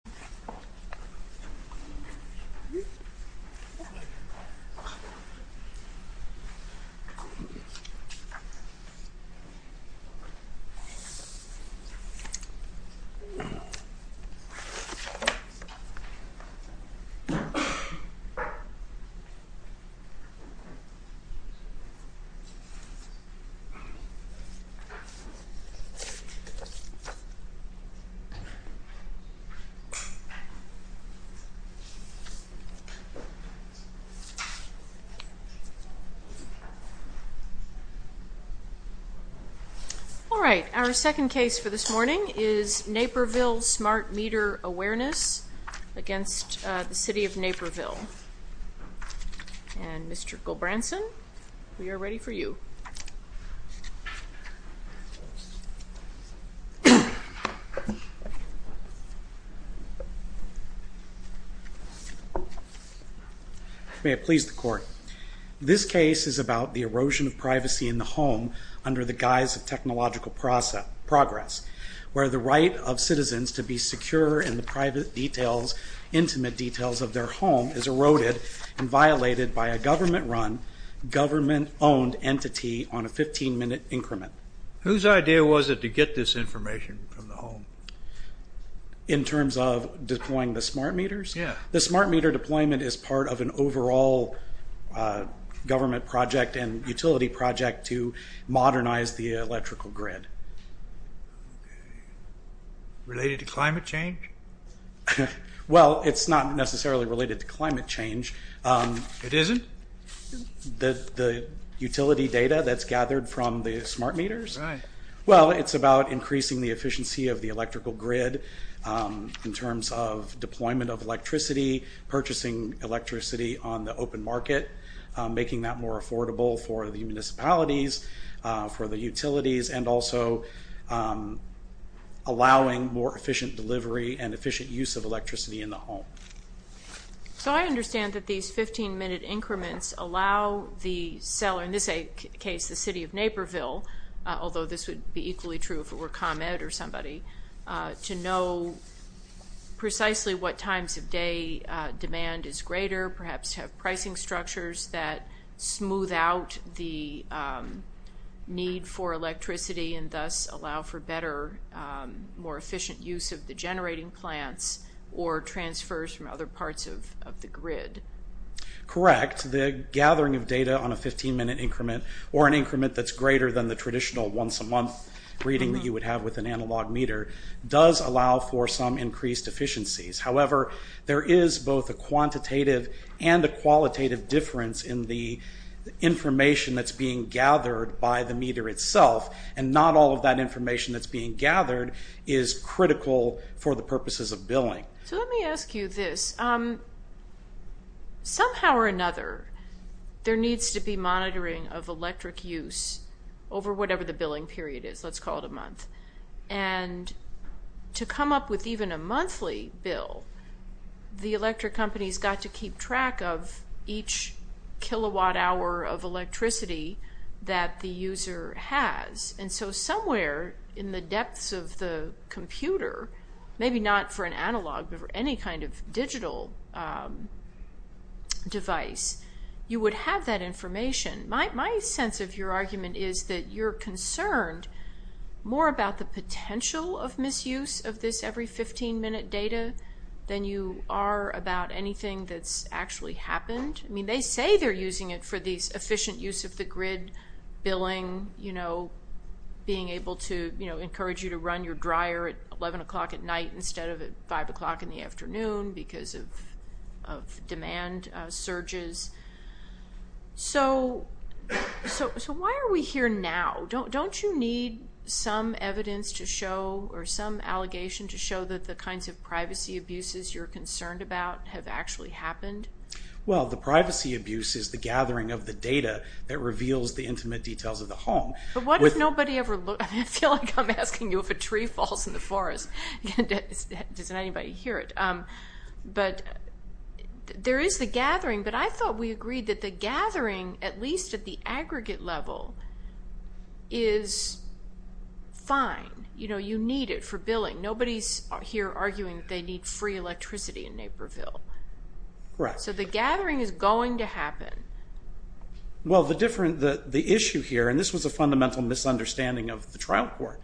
Smart Meter Awarene v. City of Naperville All right, our second case for this morning is Naperville Smart Meter Awareness v. City of Naperville. And Mr. Gobranson, we are ready for you. May it please the Court, this case is about the erosion of privacy in the home under the guise of technological progress, where the right of citizens to be secure in the private details, intimate details of their home is eroded and violated by a government-run, government-owned entity on a 15-minute increment. Whose idea was it to get this information from the home? In terms of deploying the smart meters? Yeah. The smart meter deployment is part of an overall government project and utility project to modernize the electrical grid. Related to climate change? Well, it's not necessarily related to climate change. It isn't? The utility data that's gathered from the smart meters? Right. Well, it's about increasing the efficiency of the electrical grid in terms of deployment of electricity, purchasing electricity on the open market, making that more affordable for the municipalities, for the utilities, and also allowing more efficient delivery and efficient use of electricity in the home. So I understand that these 15-minute increments allow the seller, in this case the city of Naperville, although this would be equally true if it were ComEd or somebody, to know precisely what times of day demand is greater, perhaps have pricing structures that smooth out the need for electricity and thus allow for better, more efficient use of the generating plants, or transfers from other parts of the grid. Correct. data on a 15-minute increment or an increment that's greater than the traditional once-a-month reading that you would have with an analog meter does allow for some increased efficiencies. However, there is both a quantitative and a qualitative difference in the information that's being gathered by the meter itself, and not all of that information that's being gathered is critical for the purposes of billing. So let me ask you this. Somehow or another, there needs to be monitoring of electric use over whatever the billing period is, let's call it a month. And to come up with even a monthly bill, the electric companies got to keep track of each kilowatt hour of electricity that the user has. And so somewhere in the depths of the computer, maybe not for an analog, but for any kind of digital device, you would have that information. My sense of your argument is that you're concerned more about the potential of misuse of this every 15-minute data than you are about anything that's actually happened. I mean, they say they're using it for the efficient use of the grid, billing, being able to encourage you to run your dryer at 11 o'clock at night instead of at 5 o'clock in the afternoon because of demand surges. So why are we here now? Don't you need some evidence to show or some allegation to show that the kinds of privacy abuses you're concerned about have actually happened? Well, the privacy abuse is the gathering of the data that reveals the intimate details of the home. But what if nobody ever looked? I feel like I'm asking you if a tree falls in the forest. Does anybody hear it? But there is the gathering. But I thought we agreed that the gathering, at least at the aggregate level, is fine. You know, you need it for billing. Nobody's here arguing they need free electricity in Naperville. So the gathering is going to happen. Well, the issue here, and this was a fundamental misunderstanding of the trial court,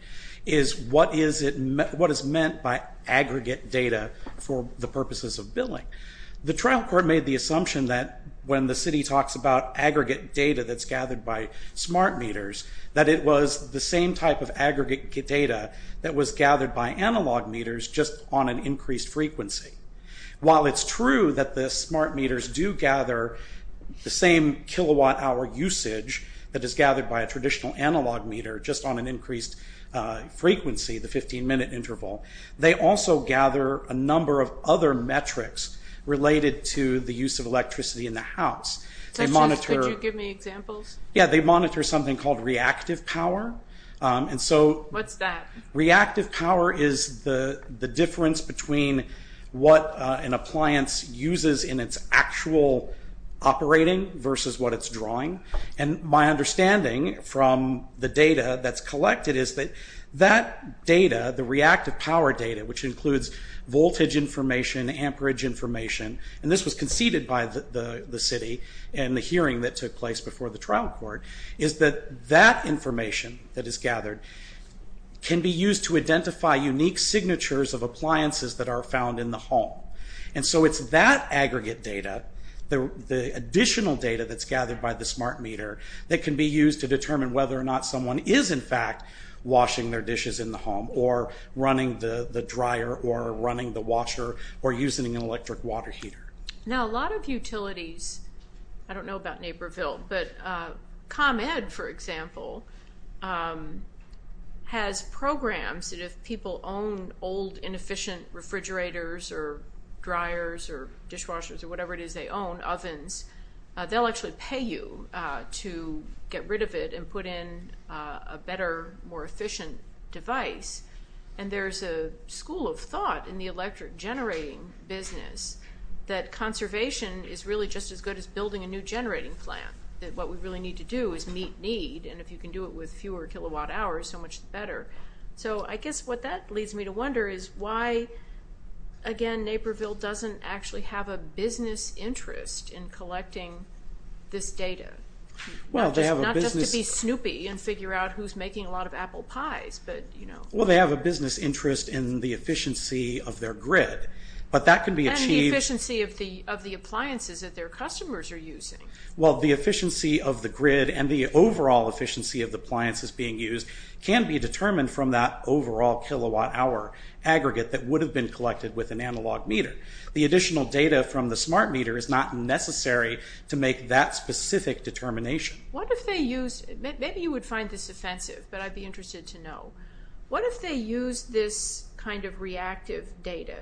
is what is meant by aggregate data for the purposes of billing. The trial court made the assumption that when the city talks about aggregate data that's gathered by smart meters, that it was the same type of aggregate data that was gathered by analog meters, just on an increased frequency. While it's true that the smart meters do gather the same kilowatt-hour usage that is gathered by a traditional analog meter, just on an increased frequency, the 15-minute interval, they also gather a number of other metrics related to the use of electricity in the house. Could you give me examples? Yeah, they monitor something called reactive power. What's that? Reactive power is the difference between what an appliance uses in its actual operating versus what it's drawing. My understanding from the data that's collected is that that data, the reactive power data, which includes voltage information, amperage information, and this was conceded by the city in the hearing that took place before the trial court, is that that information that is gathered can be used to identify unique signatures of appliances that are found in the home. It's that aggregate data, the additional data that's gathered by the smart meter, that can be used to determine whether or not someone is in fact washing their dishes in the home, or running the dryer, or running the washer, or using an electric water heater. Now, a lot of utilities, I don't know about Naperville, but ComEd, for example, has programs that if people own old, inefficient refrigerators, or dryers, or dishwashers, or whatever it is they own, ovens, they'll actually pay you to get rid of it and put in a better, more efficient device. And there's a school of thought in the electric generating business that conservation is really just as good as building a new generating plant, that what we really need to do is meet need, and if you can do it with fewer kilowatt hours, so much the better. So I guess what that leads me to wonder is why, again, Naperville doesn't actually have a business interest in collecting this data. Not just to be snoopy and figure out who's making a lot of apple pies, but you know. Well, they have a business interest in the efficiency of their grid, but that can be achieved. And the efficiency of the appliances that their customers are using. Well, the efficiency of the grid and the overall efficiency of the appliances being used can be determined from that overall kilowatt hour aggregate that would have been collected with an analog meter. The additional data from the smart meter is not necessary to make that specific determination. What if they used, maybe you would find this offensive, but I'd be interested to know, what if they used this kind of reactive data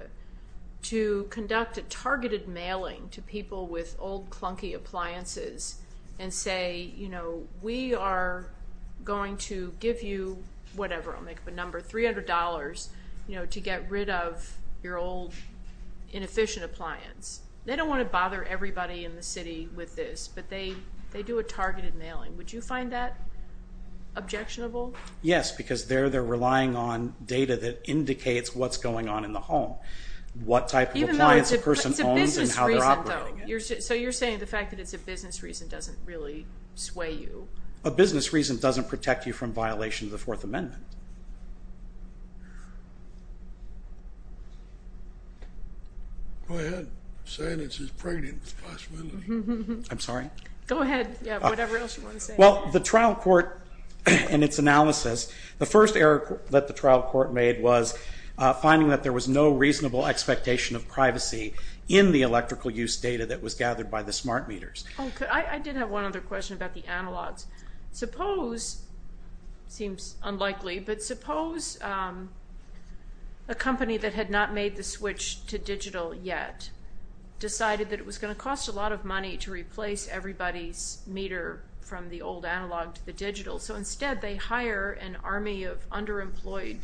to conduct a targeted mailing to people with old clunky appliances, and say, you know, we are going to give you whatever, I'll make up a number, $300 to get rid of your old inefficient appliance. They don't want to bother everybody in the city with this, but they do a targeted mailing. Would you find that objectionable? Yes, because they're relying on data that indicates what's going on in the home. What type of appliance a person owns and how they're operating it. So you're saying the fact that it's a business reason doesn't really sway you? A business reason doesn't protect you from violation of the Fourth Amendment. Go ahead, say it's as pregnant as possible. I'm sorry? Go ahead, yeah, whatever else you want to say. Well, the trial court, in its analysis, the first error that the trial court made was finding that there was no reasonable expectation of privacy in the electrical use data that was gathered by the smart meters. I did have one other question about the analogs. Suppose, seems unlikely, but suppose a company that had not made the switch to digital yet decided that it was going to cost a lot of money to replace everybody's meter from the old analog to the digital. So instead they hire an army of underemployed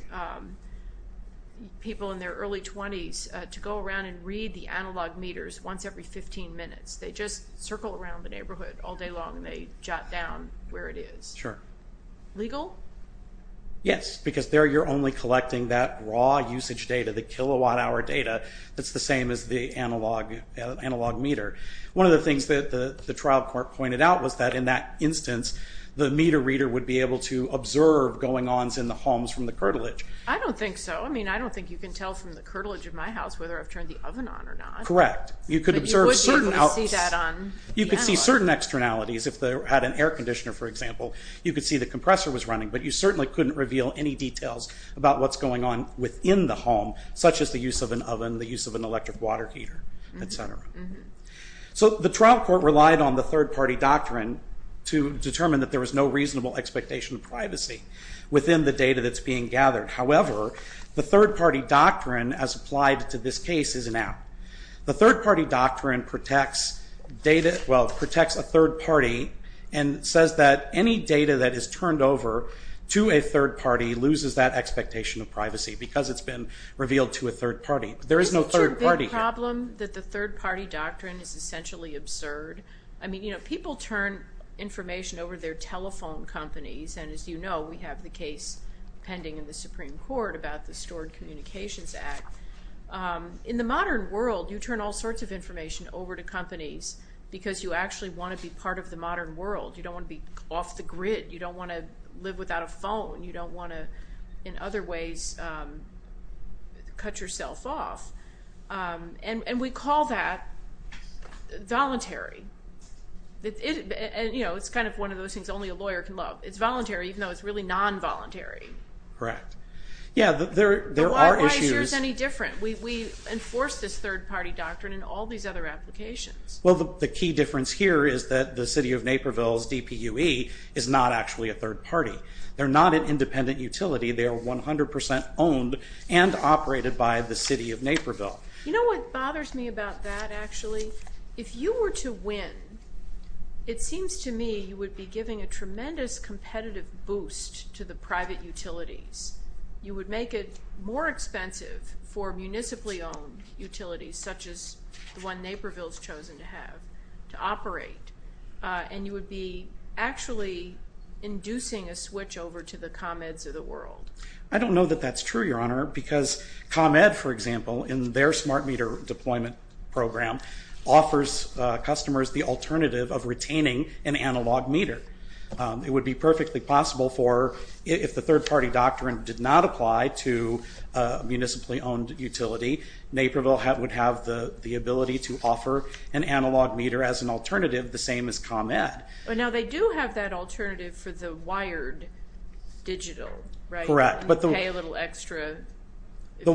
people in their early 20s to go around and read the analog meters once every 15 minutes. They just circle around the neighborhood all day long and they jot down where it is. Legal? Yes, because there you're only collecting that raw usage data, the kilowatt hour data, that's the same as the analog meter. One of the things that the trial court pointed out was that in that instance the meter reader would be able to observe going on in the homes from the curtilage. I don't think so. I mean, I don't think you can tell from the curtilage of my house whether I've turned the oven on or not. Correct. But you would be able to see that on the analog. You could see certain externalities. If they had an air conditioner, for example, you could see the compressor was running. But you certainly couldn't reveal any details about what's going on within the home, such as the use of an oven, the use of an electric water heater, etc. So the trial court relied on the third-party doctrine to determine that there was no reasonable expectation of privacy within the data that's being gathered. However, the third-party doctrine as applied to this case is an app. The third-party doctrine protects data, well, protects a third-party and says that any data that is turned over to a third-party loses that expectation of privacy because it's been revealed to a third-party. There is no third-party here. Isn't it your big problem that the third-party doctrine is essentially absurd? I mean, you know, people turn information over their telephone companies, and as you know, we have the case pending in the Supreme Court about the Stored Communications Act. In the modern world, you turn all sorts of information over to companies because you actually want to be part of the modern world. You don't want to be off the grid. You don't want to live without a phone. You don't want to, in other ways, cut yourself off. And we call that voluntary. You know, it's kind of one of those things only a lawyer can love. Correct. Yeah, there are issues. Why is yours any different? We enforce this third-party doctrine in all these other applications. Well, the key difference here is that the city of Naperville's DPUE is not actually a third-party. They're not an independent utility. They are 100 percent owned and operated by the city of Naperville. You know what bothers me about that, actually? If you were to win, it seems to me you would be giving a tremendous competitive boost to the private utilities. You would make it more expensive for municipally owned utilities, such as the one Naperville's chosen to have, to operate. And you would be actually inducing a switch over to the ComEds of the world. I don't know that that's true, Your Honor, because ComEd, for example, in their smart meter deployment program, offers customers the alternative of retaining an analog meter. It would be perfectly possible for, if the third-party doctrine did not apply to a municipally owned utility, Naperville would have the ability to offer an analog meter as an alternative, the same as ComEd. Now, they do have that alternative for the wired digital, right? Correct. You pay a little extra. The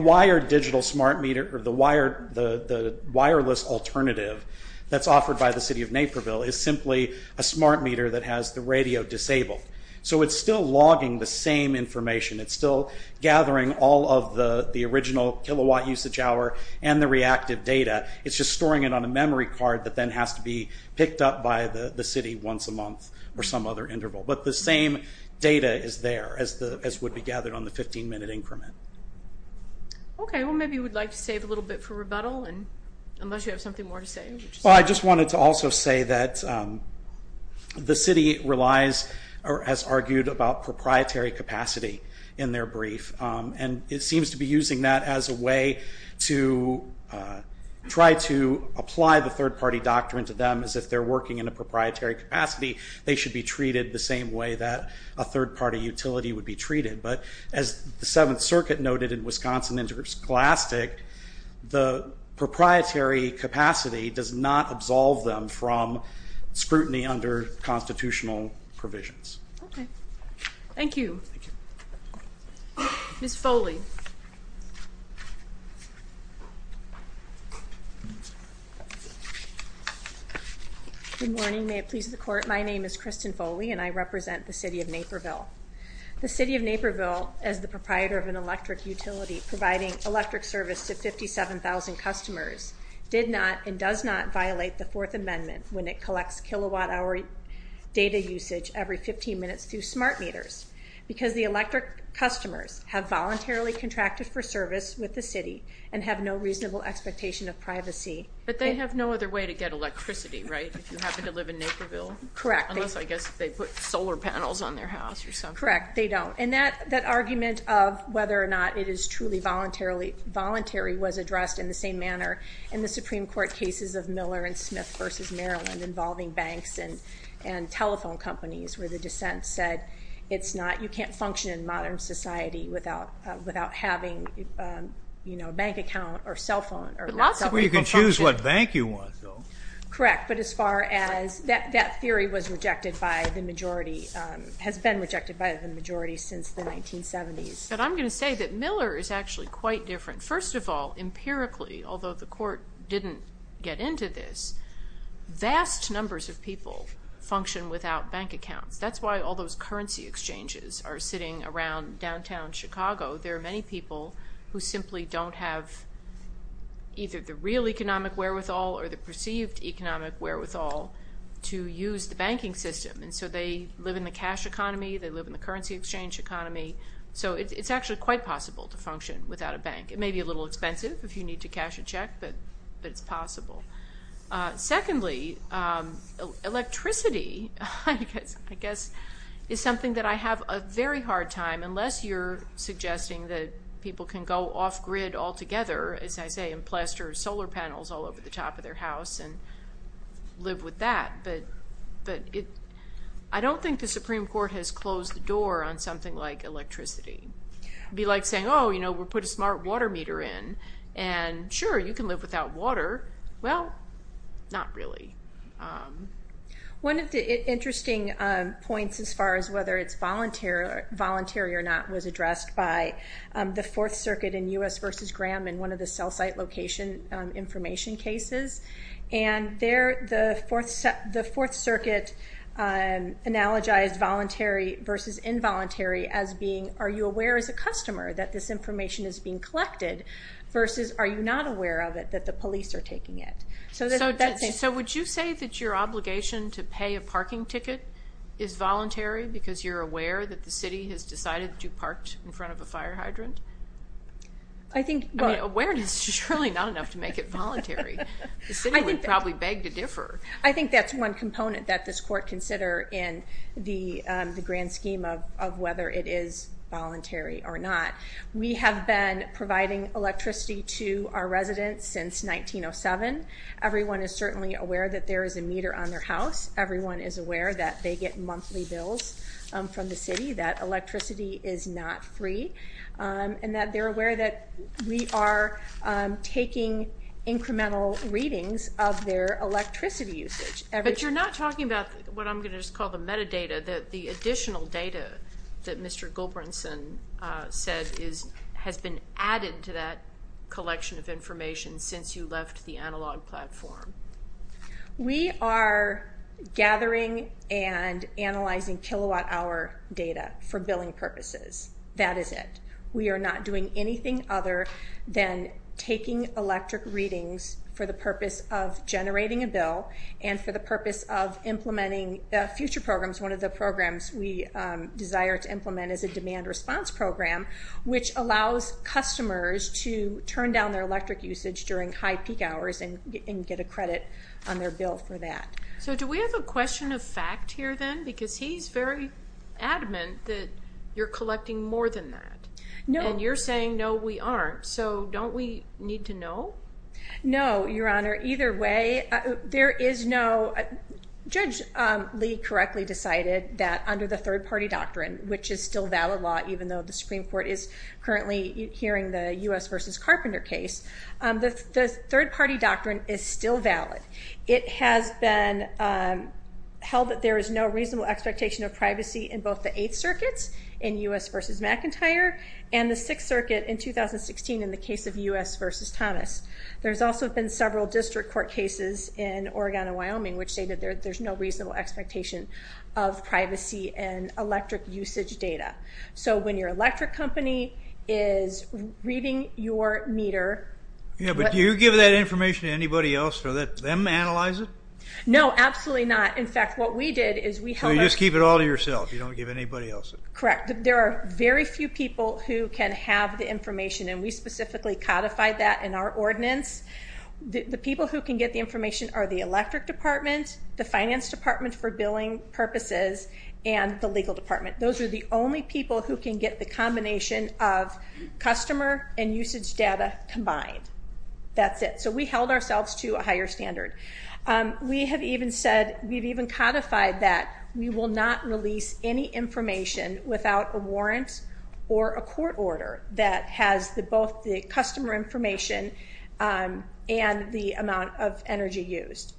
wireless alternative that's offered by the city of Naperville is simply a smart meter that has the radio disabled. So it's still logging the same information. It's still gathering all of the original kilowatt usage hour and the reactive data. It's just storing it on a memory card that then has to be picked up by the city once a month or some other interval. But the same data is there, as would be gathered on the 15-minute increment. Okay, well, maybe you would like to save a little bit for rebuttal, unless you have something more to say. Well, I just wanted to also say that the city relies, or has argued, about proprietary capacity in their brief. And it seems to be using that as a way to try to apply the third-party doctrine to them, as if they're working in a proprietary capacity, they should be treated the same way that a third-party utility would be treated. But as the Seventh Circuit noted in Wisconsin interglastic, the proprietary capacity does not absolve them from scrutiny under constitutional provisions. Okay. Thank you. Ms. Foley. Good morning. May it please the Court. My name is Kristen Foley, and I represent the city of Naperville. The city of Naperville, as the proprietor of an electric utility providing electric service to 57,000 customers, did not and does not violate the Fourth Amendment when it collects kilowatt-hour data usage every 15 minutes through smart meters, because the electric customers have voluntarily contracted for service with the city and have no reasonable expectation of privacy. But they have no other way to get electricity, right, if you happen to live in Naperville? Correct. Unless, I guess, they put solar panels on their house or something. Correct. They don't. And that argument of whether or not it is truly voluntary was addressed in the same manner in the Supreme Court cases of Miller and Smith v. Maryland involving banks and telephone companies, where the dissent said you can't function in modern society without having a bank account or cell phone. But lots of people can choose what bank you want, though. Correct, but as far as that theory was rejected by the majority, has been rejected by the majority since the 1970s. But I'm going to say that Miller is actually quite different. First of all, empirically, although the court didn't get into this, vast numbers of people function without bank accounts. That's why all those currency exchanges are sitting around downtown Chicago. There are many people who simply don't have either the real economic wherewithal or the perceived economic wherewithal to use the banking system. And so they live in the cash economy. They live in the currency exchange economy. So it's actually quite possible to function without a bank. It may be a little expensive if you need to cash a check, but it's possible. Secondly, electricity, I guess, is something that I have a very hard time, unless you're suggesting that people can go off grid altogether, as I say, and plaster solar panels all over the top of their house and live with that. But I don't think the Supreme Court has closed the door on something like electricity. It would be like saying, oh, you know, we'll put a smart water meter in, and sure, you can live without water. Well, not really. One of the interesting points as far as whether it's voluntary or not was addressed by the Fourth Circuit in U.S. v. Graham in one of the cell site location information cases. And there the Fourth Circuit analogized voluntary versus involuntary as being, are you aware as a customer that this information is being collected versus are you not aware of it that the police are taking it? So would you say that your obligation to pay a parking ticket is voluntary because you're aware that the city has decided that you parked in front of a fire hydrant? I think, well. Awareness is surely not enough to make it voluntary. The city would probably beg to differ. I think that's one component that this court consider in the grand scheme of whether it is voluntary or not. We have been providing electricity to our residents since 1907. Everyone is certainly aware that there is a meter on their house. Everyone is aware that they get monthly bills from the city, that electricity is not free, and that they're aware that we are taking incremental readings of their electricity usage. But you're not talking about what I'm going to just call the metadata, the additional data that Mr. Gulbranson said has been added to that collection of information since you left the analog platform. We are gathering and analyzing kilowatt hour data for billing purposes. That is it. We are not doing anything other than taking electric readings for the purpose of generating a bill and for the purpose of implementing future programs. One of the programs we desire to implement is a demand response program, which allows customers to turn down their electric usage during high peak hours and get a credit on their bill for that. So do we have a question of fact here then? Because he's very adamant that you're collecting more than that. And you're saying, no, we aren't. So don't we need to know? No, Your Honor. Either way, there is no judge Lee correctly decided that under the third-party doctrine, which is still valid law even though the Supreme Court is currently hearing the U.S. v. Carpenter case, the third-party doctrine is still valid. It has been held that there is no reasonable expectation of privacy in both the Eighth Circuit in U.S. v. McIntyre and the Sixth Circuit in 2016 in the case of U.S. v. Thomas. There's also been several district court cases in Oregon and Wyoming which say that there's no reasonable expectation of privacy in electric usage data. So when your electric company is reading your meter – Yeah, but do you give that information to anybody else to let them analyze it? No, absolutely not. In fact, what we did is we held – So you just keep it all to yourself. You don't give anybody else it. Correct. There are very few people who can have the information, and we specifically codified that in our ordinance. The people who can get the information are the electric department, the finance department for billing purposes, and the legal department. Those are the only people who can get the combination of customer and usage data combined. That's it. So we held ourselves to a higher standard. We have even said – we've even codified that we will not release any information without a warrant or a court order that has both the customer information and the amount of energy used.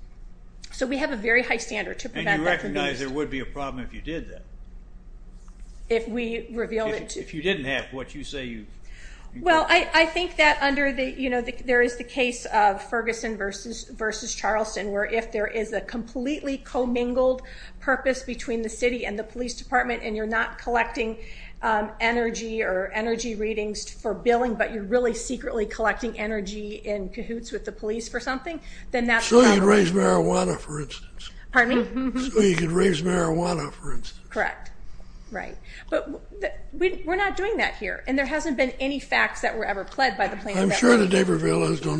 So we have a very high standard to prevent that from being used. And you recognize there would be a problem if you did that? If we revealed it to – If you didn't have what you say you – Well, I think that under the – you know, there is the case of Ferguson v. Charleston where if there is a completely commingled purpose between the city and the police department and you're not collecting energy or energy readings for billing, but you're really secretly collecting energy in cahoots with the police for something, then that's – So you could raise marijuana, for instance. Pardon me? So you could raise marijuana, for instance. Correct. Right. But we're not doing that here, and there hasn't been any facts that were ever pled by the plaintiff that way. I'm sure that Naperville has no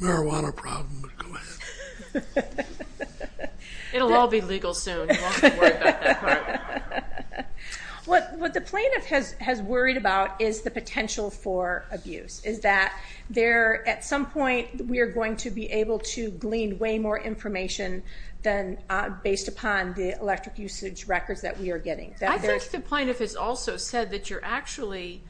marijuana problem, but go ahead. It'll all be legal soon. You won't have to worry about that part. What the plaintiff has worried about is the potential for abuse, is that at some point we are going to be able to glean way more information based upon the electric usage records that we are getting. I think the plaintiff has also said that you're actually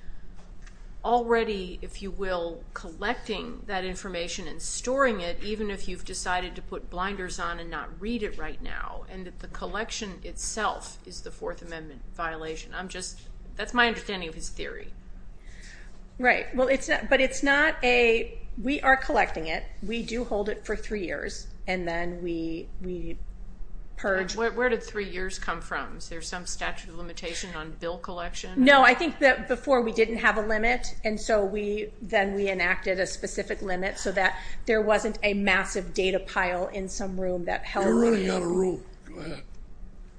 already, if you will, collecting that information and storing it even if you've decided to put blinders on and not read it right now, and that the collection itself is the Fourth Amendment violation. I'm just – that's my understanding of his theory. Right. But it's not a – we are collecting it. We do hold it for three years, and then we purge. Where did three years come from? Is there some statute of limitation on bill collection? No, I think that before we didn't have a limit, and so then we enacted a specific limit so that there wasn't a massive data pile in some room that held it. You're running out of room. Go ahead.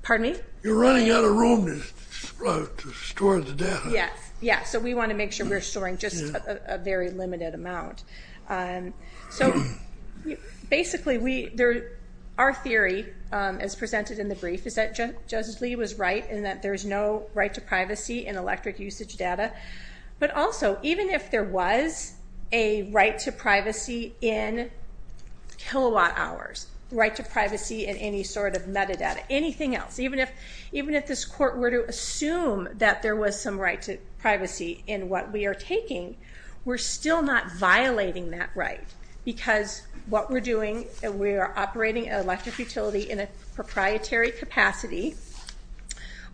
Pardon me? You're running out of room to store the data. Yes, yes. So we want to make sure we're storing just a very limited amount. So basically our theory as presented in the brief is that Judge Lee was right in that there's no right to privacy in electric usage data, but also even if there was a right to privacy in kilowatt hours, right to privacy in any sort of metadata, anything else, even if this court were to assume that there was some right to privacy in what we are taking, we're still not violating that right because what we're doing, we are operating an electric utility in a proprietary capacity.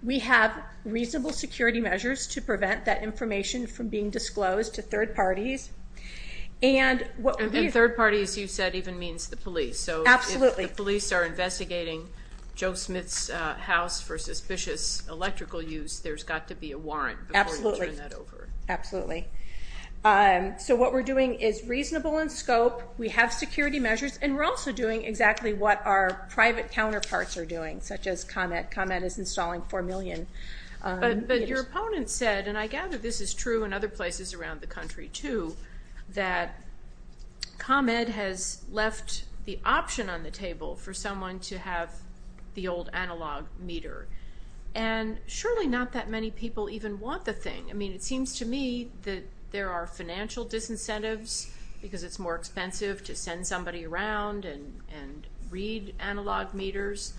We have reasonable security measures to prevent that information from being disclosed to third parties. And third parties, you said, even means the police. Absolutely. So if the police are investigating Joe Smith's house for suspicious electrical use, there's got to be a warrant before you turn that over. Absolutely. So what we're doing is reasonable in scope. We have security measures, and we're also doing exactly what our private counterparts are doing, such as ComEd. ComEd is installing 4 million meters. But your opponent said, and I gather this is true in other places around the country too, that ComEd has left the option on the table for someone to have the old analog meter, and surely not that many people even want the thing. I mean, it seems to me that there are financial disincentives because it's more expensive to send somebody around and read analog meters.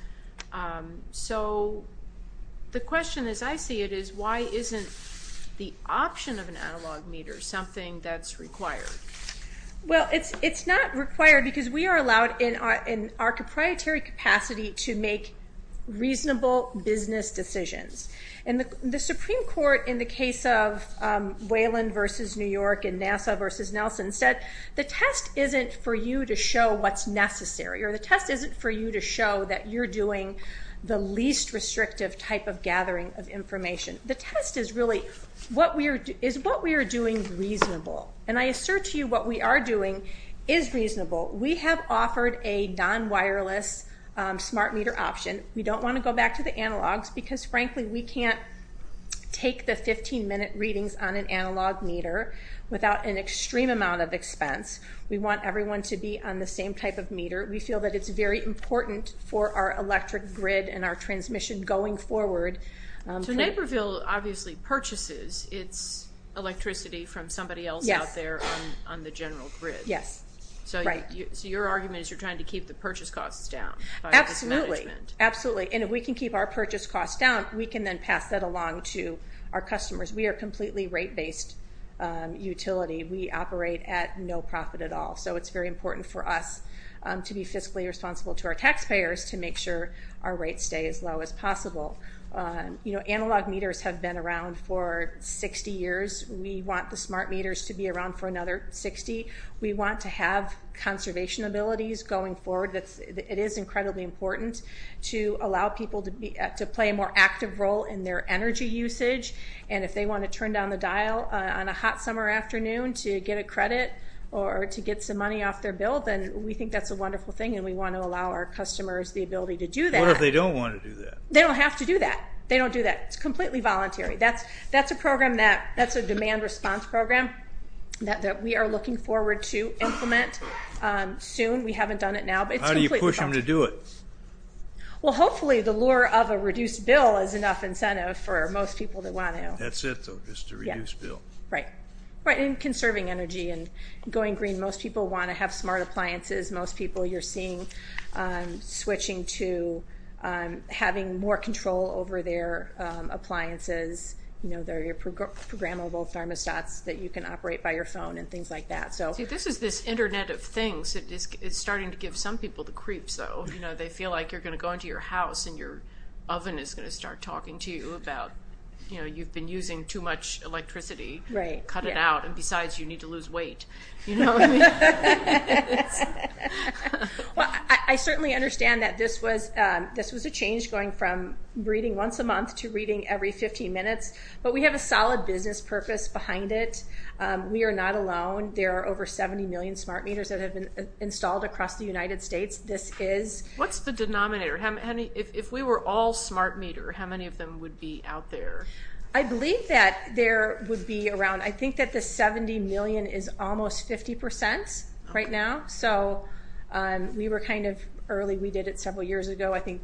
So the question, as I see it, is why isn't the option of an analog meter something that's required? Well, it's not required because we are allowed in our proprietary capacity to make reasonable business decisions. The Supreme Court, in the case of Whelan v. New York and NASA v. Nelson, said the test isn't for you to show what's necessary, or the test isn't for you to show that you're doing the least restrictive type of gathering of information. The test is what we are doing reasonable. And I assert to you what we are doing is reasonable. We have offered a non-wireless smart meter option. We don't want to go back to the analogs because, frankly, we can't take the 15-minute readings on an analog meter without an extreme amount of expense. We want everyone to be on the same type of meter. We feel that it's very important for our electric grid and our transmission going forward. So Naperville obviously purchases its electricity from somebody else out there on the general grid. Yes. So your argument is you're trying to keep the purchase costs down by mismanagement. Absolutely. And if we can keep our purchase costs down, we can then pass that along to our customers. We are a completely rate-based utility. We operate at no profit at all. So it's very important for us to be fiscally responsible to our taxpayers to make sure our rates stay as low as possible. You know, analog meters have been around for 60 years. We want the smart meters to be around for another 60. We want to have conservation abilities going forward. It is incredibly important to allow people to play a more active role in their energy usage. And if they want to turn down the dial on a hot summer afternoon to get a credit or to get some money off their bill, then we think that's a wonderful thing, and we want to allow our customers the ability to do that. What if they don't want to do that? They don't have to do that. They don't do that. It's completely voluntary. That's a program that's a demand response program that we are looking forward to implement soon. We haven't done it now, but it's completely voluntary. How do you push them to do it? Well, hopefully the lure of a reduced bill is enough incentive for most people to want to. That's it, though, just a reduced bill. Right. And conserving energy and going green. Most people want to have smart appliances. Most people you're seeing switching to having more control over their appliances, their programmable thermostats that you can operate by your phone and things like that. See, this is this Internet of things. It's starting to give some people the creeps, though. They feel like you're going to go into your house, and your oven is going to start talking to you about you've been using too much electricity. Right. Cut it out, and besides, you need to lose weight. You know what I mean? Well, I certainly understand that this was a change going from reading once a month to reading every 15 minutes, but we have a solid business purpose behind it. We are not alone. There are over 70 million smart meters that have been installed across the United States. What's the denominator? If we were all smart meter, how many of them would be out there? I believe that there would be around, I think that the 70 million is almost 50% right now. So we were kind of early. We did it several years ago. I think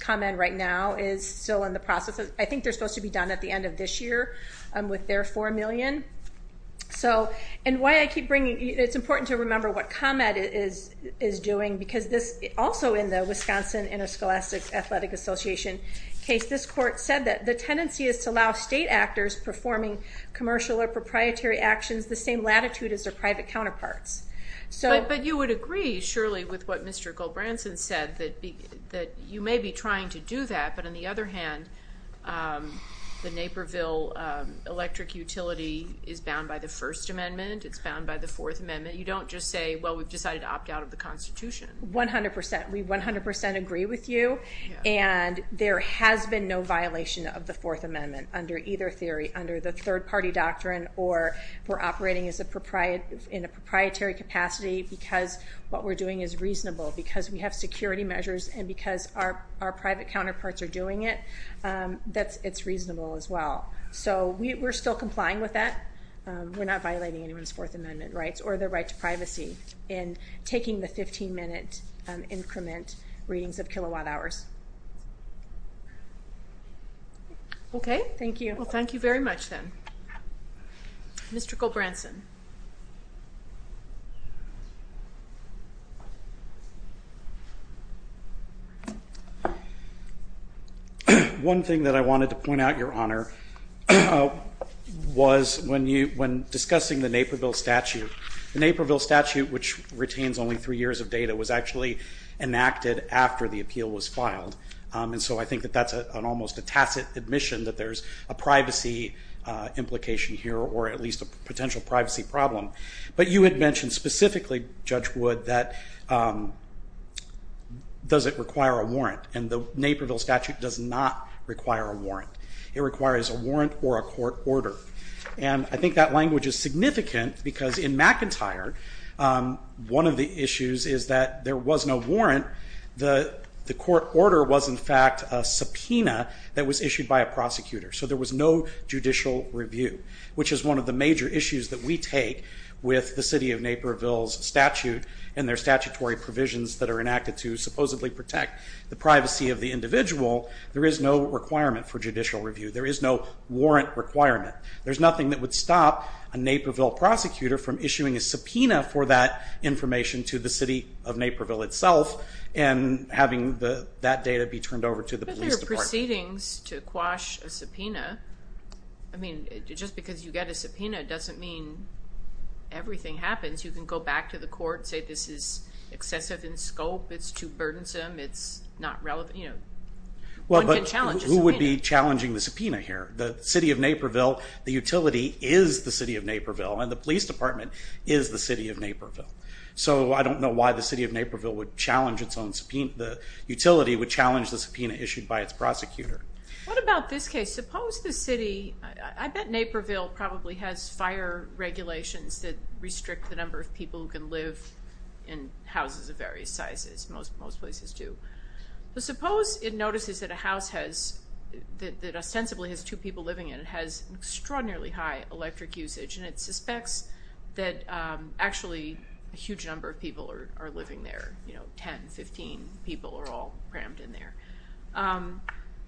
ComEd right now is still in the process. I think they're supposed to be done at the end of this year with their 4 million. It's important to remember what ComEd is doing, because also in the Wisconsin Interscholastic Athletic Association case, this court said that the tendency is to allow state actors performing commercial or proprietary actions the same latitude as their private counterparts. But you would agree, surely, with what Mr. Goldbranson said, that you may be trying to do that, but on the other hand, the Naperville electric utility is bound by the First Amendment. It's bound by the Fourth Amendment. You don't just say, well, we've decided to opt out of the Constitution. 100%. We 100% agree with you, and there has been no violation of the Fourth Amendment under either theory, under the third-party doctrine, or we're operating in a proprietary capacity because what we're doing is reasonable, because we have security measures and because our private counterparts are doing it. It's reasonable as well. So we're still complying with that. We're not violating anyone's Fourth Amendment rights or their right to privacy in taking the 15-minute increment readings of kilowatt hours. Okay. Thank you. Well, thank you very much then. Mr. Goldbranson. One thing that I wanted to point out, Your Honor, was when discussing the Naperville statute, the Naperville statute, which retains only three years of data, was actually enacted after the appeal was filed. And so I think that that's almost a tacit admission that there's a privacy implication here or at least a potential privacy problem. But you had mentioned specifically, Judge Wood, that does it require a warrant, and the Naperville statute does not require a warrant. It requires a warrant or a court order. And I think that language is significant because in McIntyre, one of the issues is that there was no warrant. The court order was, in fact, a subpoena that was issued by a prosecutor, so there was no judicial review, which is one of the major issues that we take with the city of Naperville's statute and their statutory provisions that are enacted to supposedly protect the privacy of the individual. There is no requirement for judicial review. There is no warrant requirement. There's nothing that would stop a Naperville prosecutor from issuing a subpoena for that information to the city of Naperville itself and having that data be turned over to the police department. But if there are proceedings to quash a subpoena, I mean, just because you get a subpoena doesn't mean everything happens. You can go back to the court and say this is excessive in scope, it's too burdensome, it's not relevant, you know, one can challenge a subpoena. Well, but who would be challenging the subpoena here? The city of Naperville, the utility is the city of Naperville, and the police department is the city of Naperville. So I don't know why the city of Naperville would challenge its own subpoena, the utility would challenge the subpoena issued by its prosecutor. What about this case? Suppose the city, I bet Naperville probably has fire regulations that restrict the number of people who can live in houses of various sizes, most places do. But suppose it notices that a house has, that ostensibly has two people living in it, has extraordinarily high electric usage, and it suspects that actually a huge number of people are living there, you know, 10, 15 people are all crammed in there.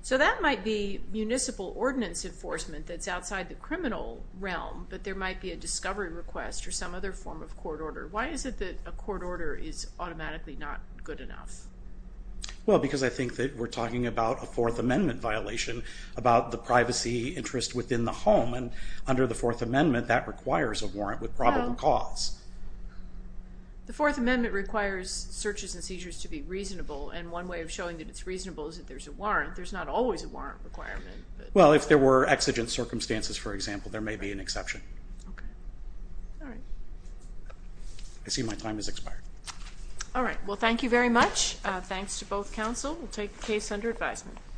So that might be municipal ordinance enforcement that's outside the criminal realm, but there might be a discovery request or some other form of court order. Why is it that a court order is automatically not good enough? Well, because I think that we're talking about a Fourth Amendment violation, about the privacy interest within the home, and under the Fourth Amendment that requires a warrant with probable cause. The Fourth Amendment requires searches and seizures to be reasonable, and one way of showing that it's reasonable is that there's a warrant. There's not always a warrant requirement. Well, if there were exigent circumstances, for example, there may be an exception. Okay. All right. I see my time has expired. All right. Well, thank you very much. Thanks to both counsel. We'll take the case under advisement.